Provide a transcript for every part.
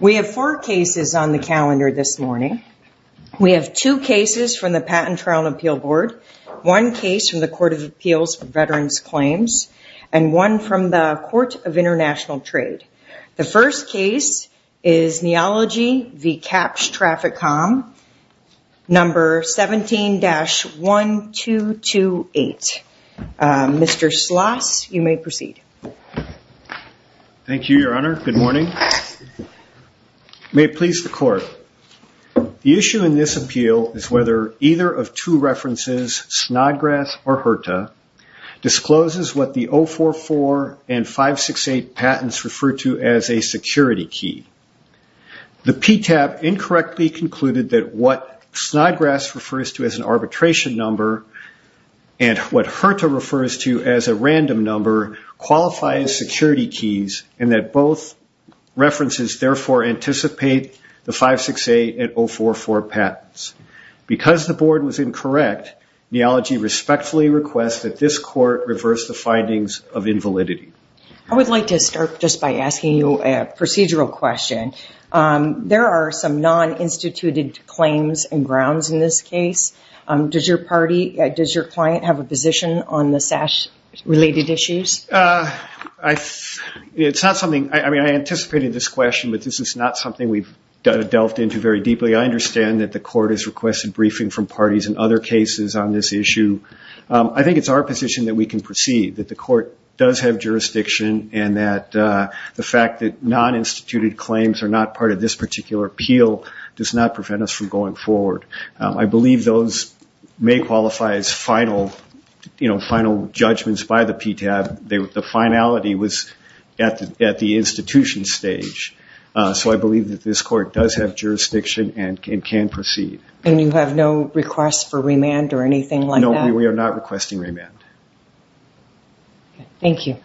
We have four cases on the calendar this morning. We have two cases from the Patent Trial and Appeal Board, one case from the Court of Appeals for Veterans Claims, and one from the Court of International Trade. The first case is Neology v. Kapsch TrafficCom No. 17-1228. Mr. Schloss, you may proceed. Thank you, Your Honor. Good morning. May it please the Court, the issue in this appeal is whether either of two references, Snodgrass or HRTA, discloses what the 044 and 568 patents refer to as a security key. The PTAB incorrectly concluded that what Snodgrass refers to as an arbitration number and what HRTA refers to as a random number qualify as security keys and that both references therefore anticipate the 568 and 044 patents. Because the board was incorrect, Neology respectfully requests that this Court reverse the findings of invalidity. I would like to start just by asking you a procedural question. There are some non-instituted claims and grounds in this case. Does your client have a position on the SASH-related issues? I anticipated this question, but this is not something we've delved into very deeply. I understand that the Court has requested briefing from parties in other cases on this issue. I think it's our position that we can proceed, that the Court does have jurisdiction and that the fact that non-instituted claims are not part of this particular appeal does not prevent us from going forward. I believe those may qualify as final judgments by the PTAB. The finality was at the institution stage. So I believe that this Court does have jurisdiction and can proceed. And you have no request for remand or anything like that? No, we are not requesting remand. Thank you.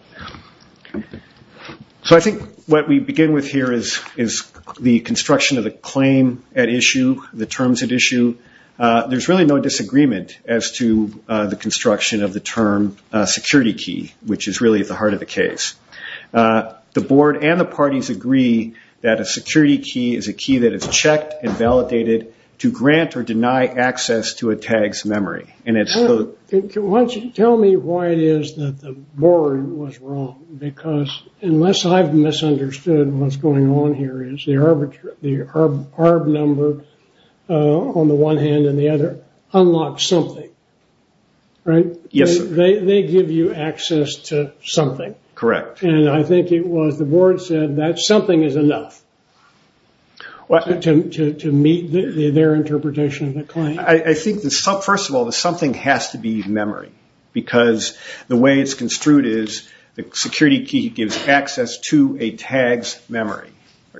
So I think what we begin with here is the construction of the claim at issue, the terms at issue. There's really no disagreement as to the construction of the term security key, which is really at the heart of the case. The Board and the parties agree that a security key is a key that is checked and validated to grant or deny access to a TAG's memory. Why don't you tell me why it is that the Board was wrong? Because unless I've misunderstood what's going on here, the arb number on the one hand and the other unlock something, right? They give you access to something. Correct. And I think it was the Board said that something is enough to meet their interpretation of the claim. I think, first of all, the something has to be memory because the way it's construed is the security key gives access to a TAG's memory.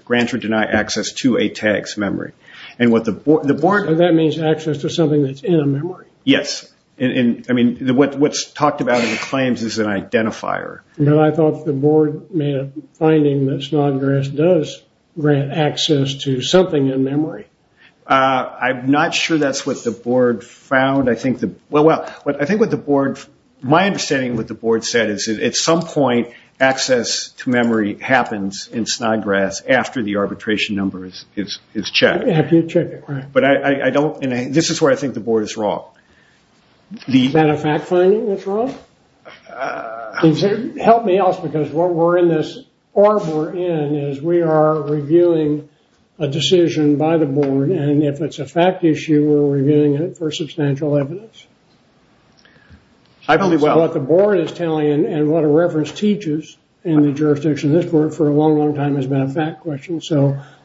Grants or deny access to a TAG's memory. That means access to something that's in a memory. Yes. What's talked about in the claims is an identifier. I thought the Board made a finding that Snodgrass does grant access to something in memory. I'm not sure that's what the Board found. I think what the Board, my understanding of what the Board said is at some point, access to memory happens in Snodgrass after the arbitration number is checked. After you check it, right. This is where I think the Board is wrong. Is that a fact finding that's wrong? Help me out because what we're in this arbor in is we are reviewing a decision by the Board and if it's a fact issue, we're reviewing it for substantial evidence. What the Board is telling and what a reference teaches in the jurisdiction of this Court for a long, long time has been a fact question.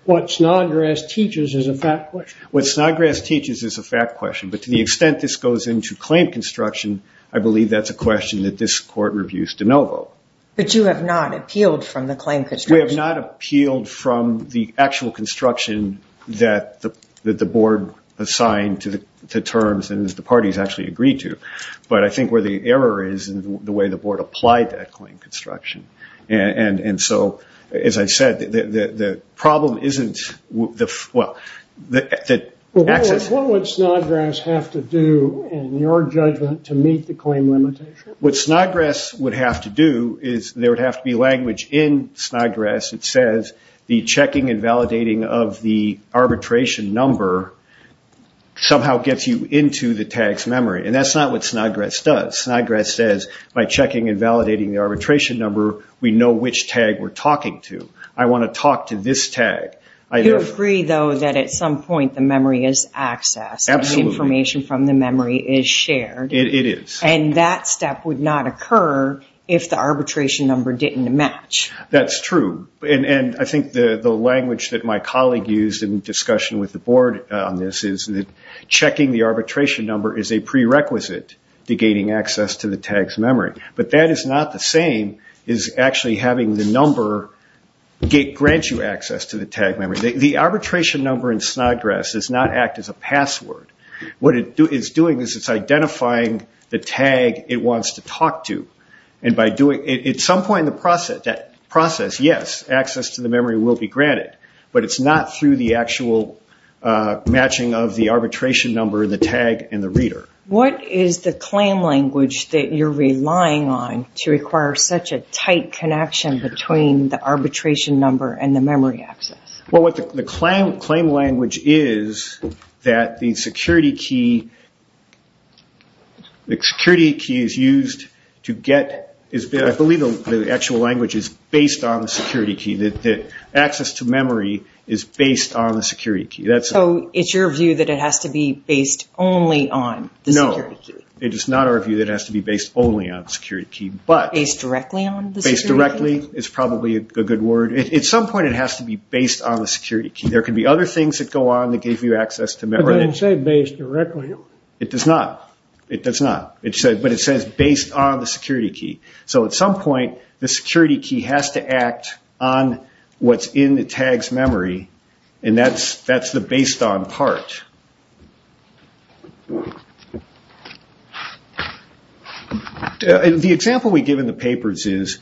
What Snodgrass teaches is a fact question. What Snodgrass teaches is a fact question, but to the extent this goes into claim construction, I believe that's a question that this Court reviews de novo. But you have not appealed from the claim construction. We have not appealed from the actual construction that the Board assigned to the terms and the parties actually agreed to. But I think where the error is in the way the Board applied that claim construction. And so, as I said, the problem isn't the access. What would Snodgrass have to do in your judgment to meet the claim limitation? What Snodgrass would have to do is there would have to be language in Snodgrass that says the checking and validating of the arbitration number somehow gets you into the tag's memory. And that's not what Snodgrass does. Snodgrass says by checking and validating the arbitration number, we know which tag we're talking to. I want to talk to this tag. You agree, though, that at some point the memory is accessed. Absolutely. The information from the memory is shared. It is. And that step would not occur if the arbitration number didn't match. That's true. And I think the language that my colleague used in discussion with the Board on this is that checking the arbitration number is a prerequisite to gaining access to the tag's memory. But that is not the same as actually having the number grant you access to the tag memory. The arbitration number in Snodgrass does not act as a password. What it's doing is it's identifying the tag it wants to talk to. At some point in the process, yes, access to the memory will be granted. But it's not through the actual matching of the arbitration number, the tag, and the reader. What is the claim language that you're relying on to require such a tight connection between the arbitration number and the memory access? Well, the claim language is that the security key is used to get, I believe the actual language is based on the security key, that access to memory is based on the security key. So it's your view that it has to be based only on the security key? No, it is not our view that it has to be based only on the security key. Based directly on the security key? Based directly is probably a good word. At some point it has to be based on the security key. There could be other things that go on that give you access to memory. But it doesn't say based directly. It does not. It does not. But it says based on the security key. So at some point the security key has to act on what's in the tag's memory, and that's the based on part. Next. The example we give in the papers is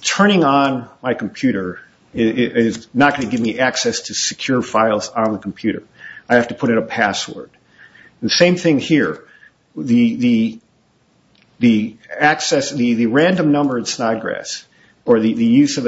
turning on my computer is not going to give me access to secure files on the computer. I have to put in a password. The same thing here. The random number in Snodgrass or the use of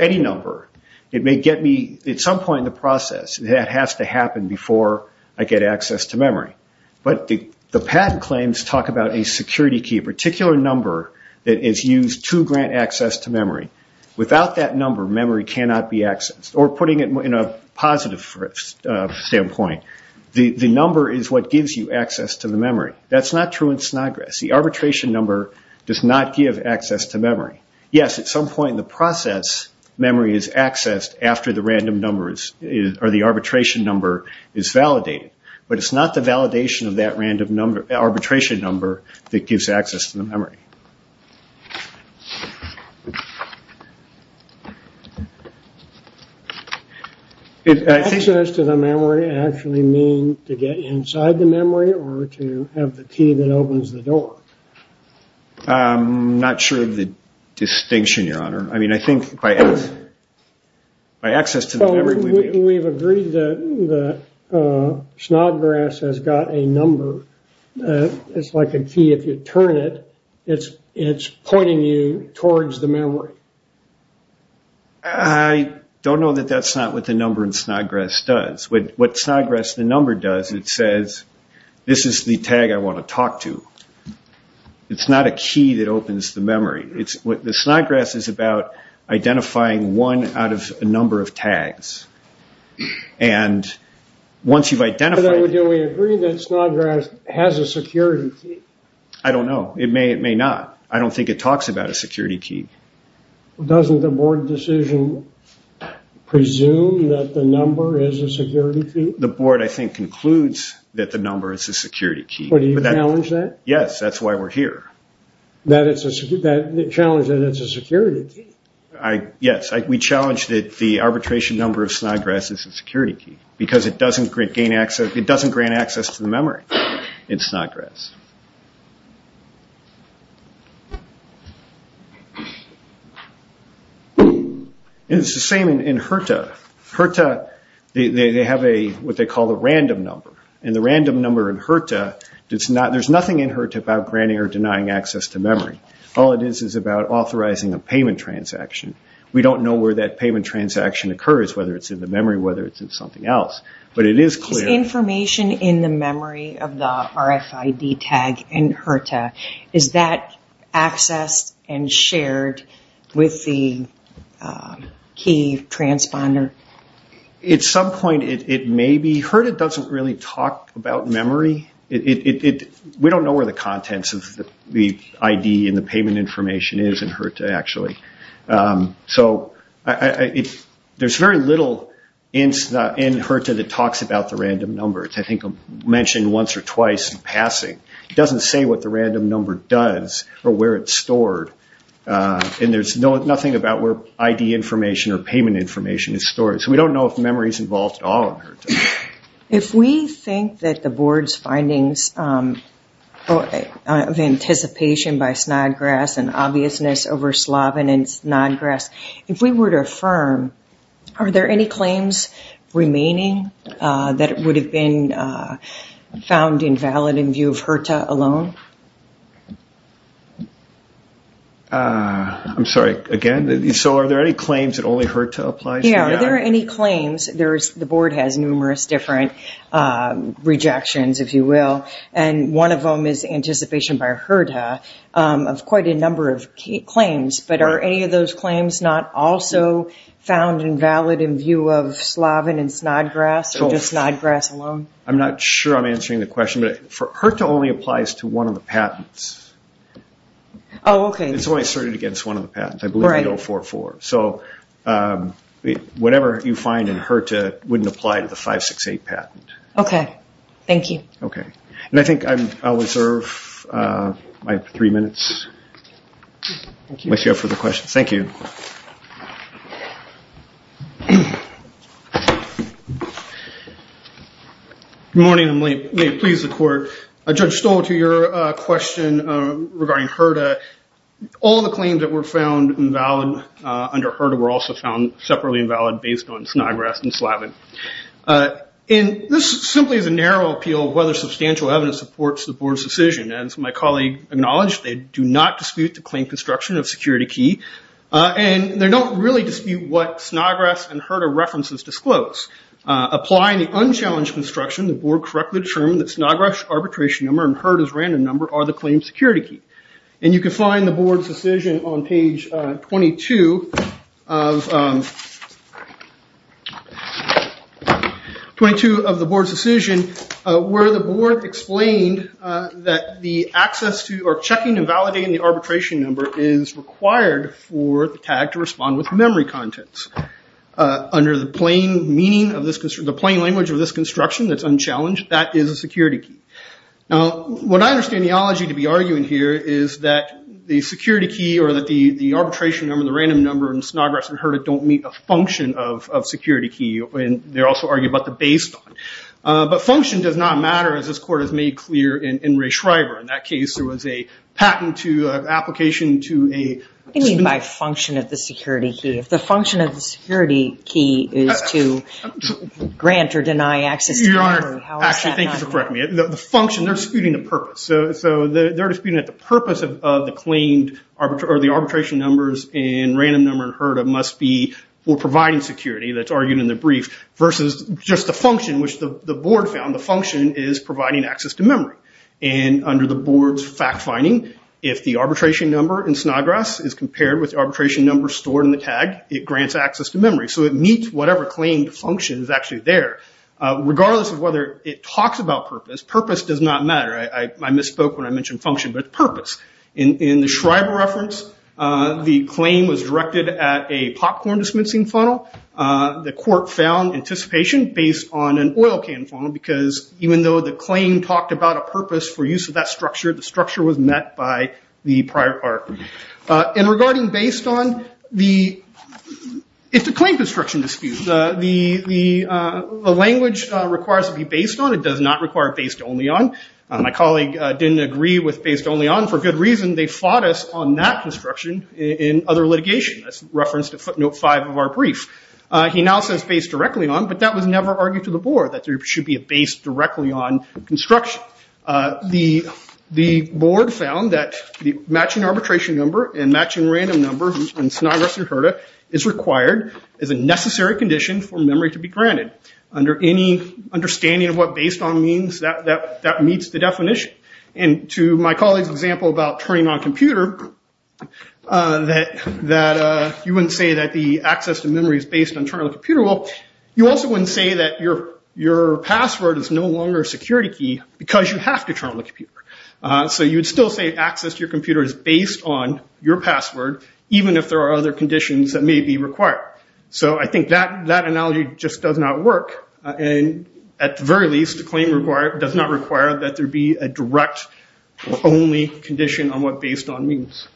any number, it may get me at some point in the process. That has to happen before I get access to memory. But the patent claims talk about a security key, a particular number that is used to grant access to memory. Without that number, memory cannot be accessed. Or putting it in a positive standpoint, the number is what gives you access to the memory. That's not true in Snodgrass. The arbitration number does not give access to memory. Yes, at some point in the process, memory is accessed after the arbitration number is validated. But it's not the validation of that arbitration number that gives access to the memory. Does access to the memory actually mean to get inside the memory or to have the key that opens the door? I'm not sure of the distinction, Your Honor. I mean, I think by access to the memory. We've agreed that Snodgrass has got a number. It's like a key. If you turn it, it's pointing you towards the memory. I don't know that that's not what the number in Snodgrass does. What Snodgrass the number does, it says, this is the tag I want to talk to. It's not a key that opens the memory. Snodgrass is about identifying one out of a number of tags. And once you've identified it. Do we agree that Snodgrass has a security key? I don't know. It may or may not. I don't think it talks about a security key. Doesn't the board decision presume that the number is a security key? The board, I think, concludes that the number is a security key. Do you challenge that? Yes, that's why we're here. That it's a security key. Yes, we challenge that the arbitration number of Snodgrass is a security key. Because it doesn't grant access to the memory in Snodgrass. It's the same in HRTA. HRTA, they have what they call a random number. And the random number in HRTA, there's nothing in HRTA about granting or denying access to memory. All it is is about authorizing a payment transaction. We don't know where that payment transaction occurs, whether it's in the memory or whether it's in something else. Is information in the memory of the RFID tag in HRTA, is that accessed and shared with the key transponder? At some point it may be. HRTA doesn't really talk about memory. We don't know where the contents of the ID and the payment information is in HRTA, actually. So there's very little in HRTA that talks about the random number. It's, I think, mentioned once or twice in passing. It doesn't say what the random number does or where it's stored. And there's nothing about where ID information or payment information is stored. So we don't know if memory is involved at all in HRTA. If we think that the board's findings of anticipation by Snodgrass and obviousness over Slobin and Snodgrass, if we were to affirm, are there any claims remaining that would have been found invalid in view of HRTA alone? I'm sorry, again? So are there any claims that only HRTA applies to? Yeah, are there any claims? The board has numerous different rejections, if you will. And one of them is anticipation by HRTA of quite a number of claims. But are any of those claims not also found invalid in view of Slobin and Snodgrass or just Snodgrass alone? I'm not sure I'm answering the question. HRTA only applies to one of the patents. Oh, okay. It's only asserted against one of the patents. I believe the 044. So whatever you find in HRTA wouldn't apply to the 568 patent. Okay. Thank you. Okay. And I think I'll reserve my three minutes. Thank you. Unless you have further questions. Thank you. Good morning, and may it please the Court. Judge Stoll, to your question regarding HRTA, all the claims that were found invalid under HRTA were also found separately invalid based on Snodgrass and Slobin. And this simply is a narrow appeal of whether substantial evidence supports the Board's decision. As my colleague acknowledged, they do not dispute the claim construction of security key. And they don't really dispute what Snodgrass and HRTA references disclose. Applying the unchallenged construction, the Board correctly determined that Snodgrass arbitration number and HRTA's random number are the claimed security key. And you can find the Board's decision on page 22 of the Board's decision, where the Board explained that the access to or checking and validating the arbitration number is required for the tag to respond with memory contents. Under the plain language of this construction that's unchallenged, that is a security key. Now, what I understand the ology to be arguing here is that the security key or that the arbitration number and the random number in Snodgrass and HRTA don't meet a function of security key. And they also argue about the based on. But function does not matter, as this Court has made clear in Ray Schreiber. In that case, there was a patent to an application to a speedy… What do you mean by function of the security key? If the function of the security key is to grant or deny access to memory, how does that matter? Actually, thank you for correcting me. The function, they're disputing the purpose. So they're disputing that the purpose of the claimed or the arbitration numbers and random number in HRTA must be for providing security, that's argued in the brief, versus just the function, which the Board found the function is providing access to memory. And under the Board's fact-finding, if the arbitration number in Snodgrass is compared with the arbitration number stored in the tag, it grants access to memory. So it meets whatever claimed function is actually there. Regardless of whether it talks about purpose, purpose does not matter. I misspoke when I mentioned function, but purpose. In the Schreiber reference, the claim was directed at a popcorn-dismissing funnel. The Court found anticipation based on an oil can funnel because even though the claim talked about a purpose for use of that structure, the structure was met by the prior part. And regarding based on the… It's a claim construction dispute. The language requires to be based on. It does not require based only on. My colleague didn't agree with based only on. For good reason, they fought us on that construction in other litigation. That's referenced in footnote 5 of our brief. He now says based directly on, but that was never argued to the Board, that there should be a based directly on construction. The Board found that the matching arbitration number and matching random number is required as a necessary condition for memory to be granted. Under any understanding of what based on means, that meets the definition. And to my colleague's example about turning on a computer, that you wouldn't say that the access to memory is based on turning on the computer. You also wouldn't say that your password is no longer a security key because you have to turn on the computer. So you'd still say access to your computer is based on your password, even if there are other conditions that may be required. So I think that analogy just does not work. And at the very least, the claim does not require that there be a direct only condition on what based on means.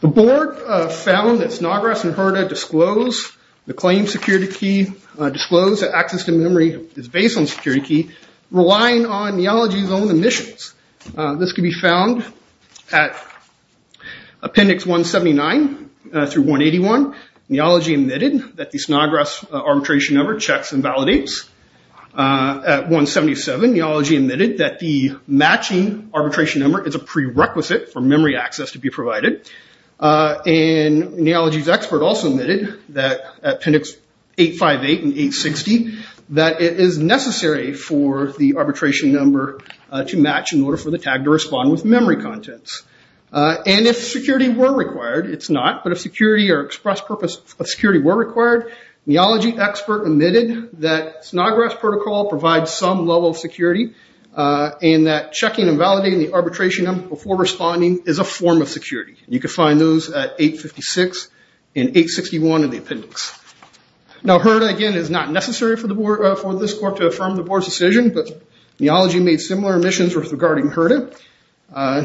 The Board found that Snodgrass and Hurta disclose the claim security key, disclose that access to memory is based on security key, relying on Neology's own emissions. This can be found at appendix 179 through 181. Neology admitted that the Snodgrass arbitration number checks and validates. At 177, Neology admitted that the matching arbitration number is a prerequisite for memory access to be provided. And Neology's expert also admitted that appendix 858 and 860, that it is necessary for the arbitration number to match in order for the tag to respond with memory contents. And if security were required, it's not. But if security or express purpose of security were required, Neology expert admitted that Snodgrass protocol provides some level of security and that checking and validating the arbitration number before responding is a form of security. You can find those at 856 and 861 in the appendix. Now Hurta, again, is not necessary for this court to affirm the board's decision, but Neology made similar omissions regarding Hurta.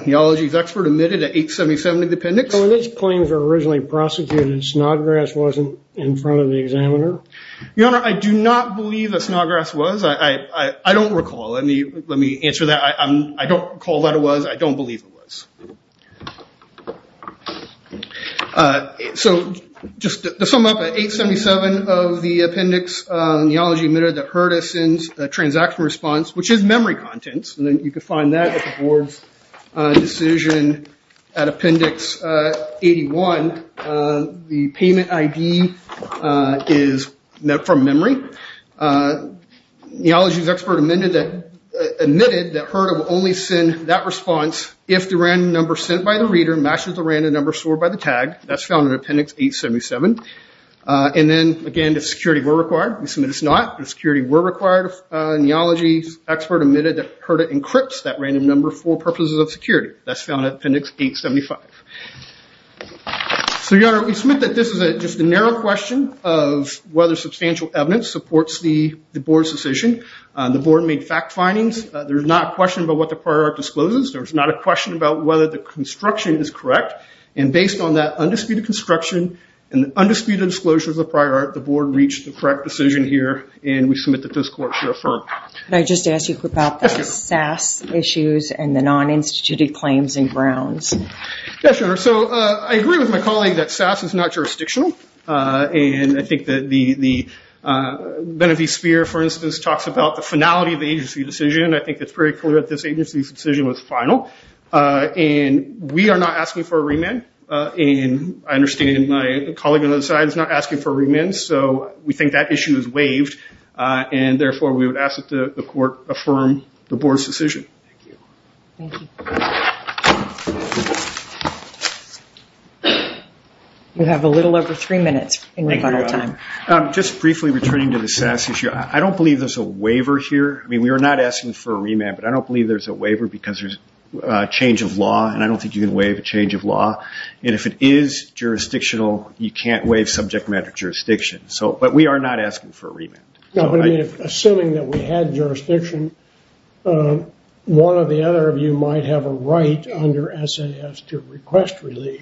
Neology's expert admitted at 877 in the appendix. So when these claims were originally prosecuted, Snodgrass wasn't in front of the examiner? Your Honor, I do not believe that Snodgrass was. I don't recall. Let me answer that. I don't recall that it was. I don't believe it was. So just to sum up, at 877 of the appendix, Neology admitted that Hurta sends a transaction response, which is memory contents, and you can find that at the board's decision at appendix 81. The payment ID is from memory. Neology's expert admitted that Hurta will only send that response if the random number sent by the reader matches the random number stored by the tag. That's found in appendix 877. And then, again, if security were required, we submit it's not. If security were required, Neology's expert admitted that Hurta encrypts that random number for purposes of security. That's found in appendix 875. So, Your Honor, we submit that this is just a narrow question of whether substantial evidence supports the board's decision. The board made fact findings. There's not a question about what the prior art discloses. There's not a question about whether the construction is correct. And based on that undisputed construction and undisputed disclosures of prior art, the board reached the correct decision here, and we submit that this court should affirm. Can I just ask you about the SAS issues and the non-instituted claims and grounds? Yes, Your Honor. So I agree with my colleague that SAS is not jurisdictional, and I think that the Benefice Sphere, for instance, talks about the finality of the agency decision. I think it's very clear that this agency's decision was final. And we are not asking for a remand, and I understand my colleague on the other side is not asking for a remand. So we think that issue is waived, and therefore we would ask that the court affirm the board's decision. Thank you. Thank you. You have a little over three minutes. Thank you, Your Honor. Just briefly returning to the SAS issue, I don't believe there's a waiver here. I mean, we are not asking for a remand, but I don't believe there's a waiver because there's a change of law, and I don't think you can waive a change of law. And if it is jurisdictional, you can't waive subject matter jurisdiction. But we are not asking for a remand. Assuming that we had jurisdiction, one or the other of you might have a right under SAS to request relief.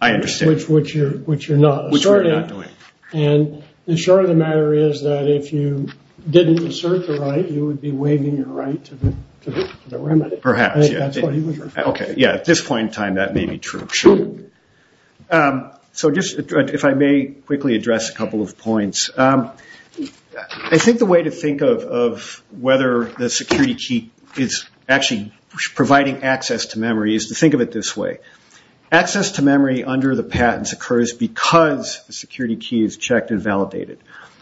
I understand. Which you're not asserting. Which we're not doing. And the short of the matter is that if you didn't assert the right, you would be waiving your right to the remedy. Perhaps, yeah. That's what he was referring to. Yeah, at this point in time, that may be true. So just if I may quickly address a couple of points. I think the way to think of whether the security key is actually providing access to memory is to think of it this way. Access to memory under the patents occurs because the security key is checked and validated.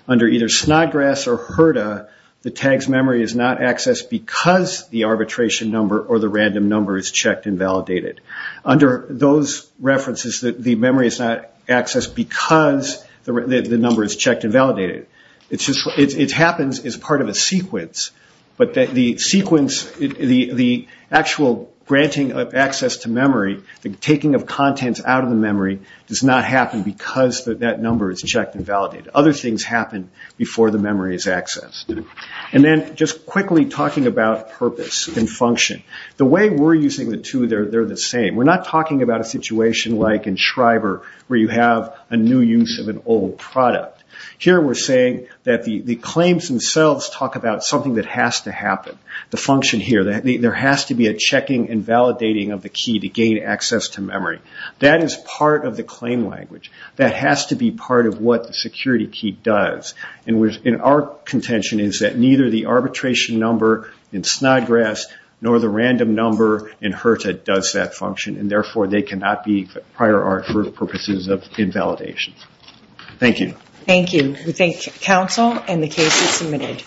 Under either Snodgrass or HRDA, the tag's memory is not accessed because the arbitration number or the random number is checked and validated. Under those references, the memory is not accessed because the number is checked and validated. It happens as part of a sequence. But the sequence, the actual granting of access to memory, the taking of contents out of the memory does not happen because that number is checked and validated. Other things happen before the memory is accessed. And then just quickly talking about purpose and function. The way we're using the two, they're the same. We're not talking about a situation like in Schreiber where you have a new use of an old product. Here we're saying that the claims themselves talk about something that has to happen. The function here, there has to be a checking and validating of the key to gain access to memory. That is part of the claim language. That has to be part of what the security key does. And our contention is that neither the arbitration number in Snodgrass nor the random number in HRDA does that function. And therefore they cannot be prior art for purposes of invalidation. Thank you. Thank you. We thank counsel and the case is submitted.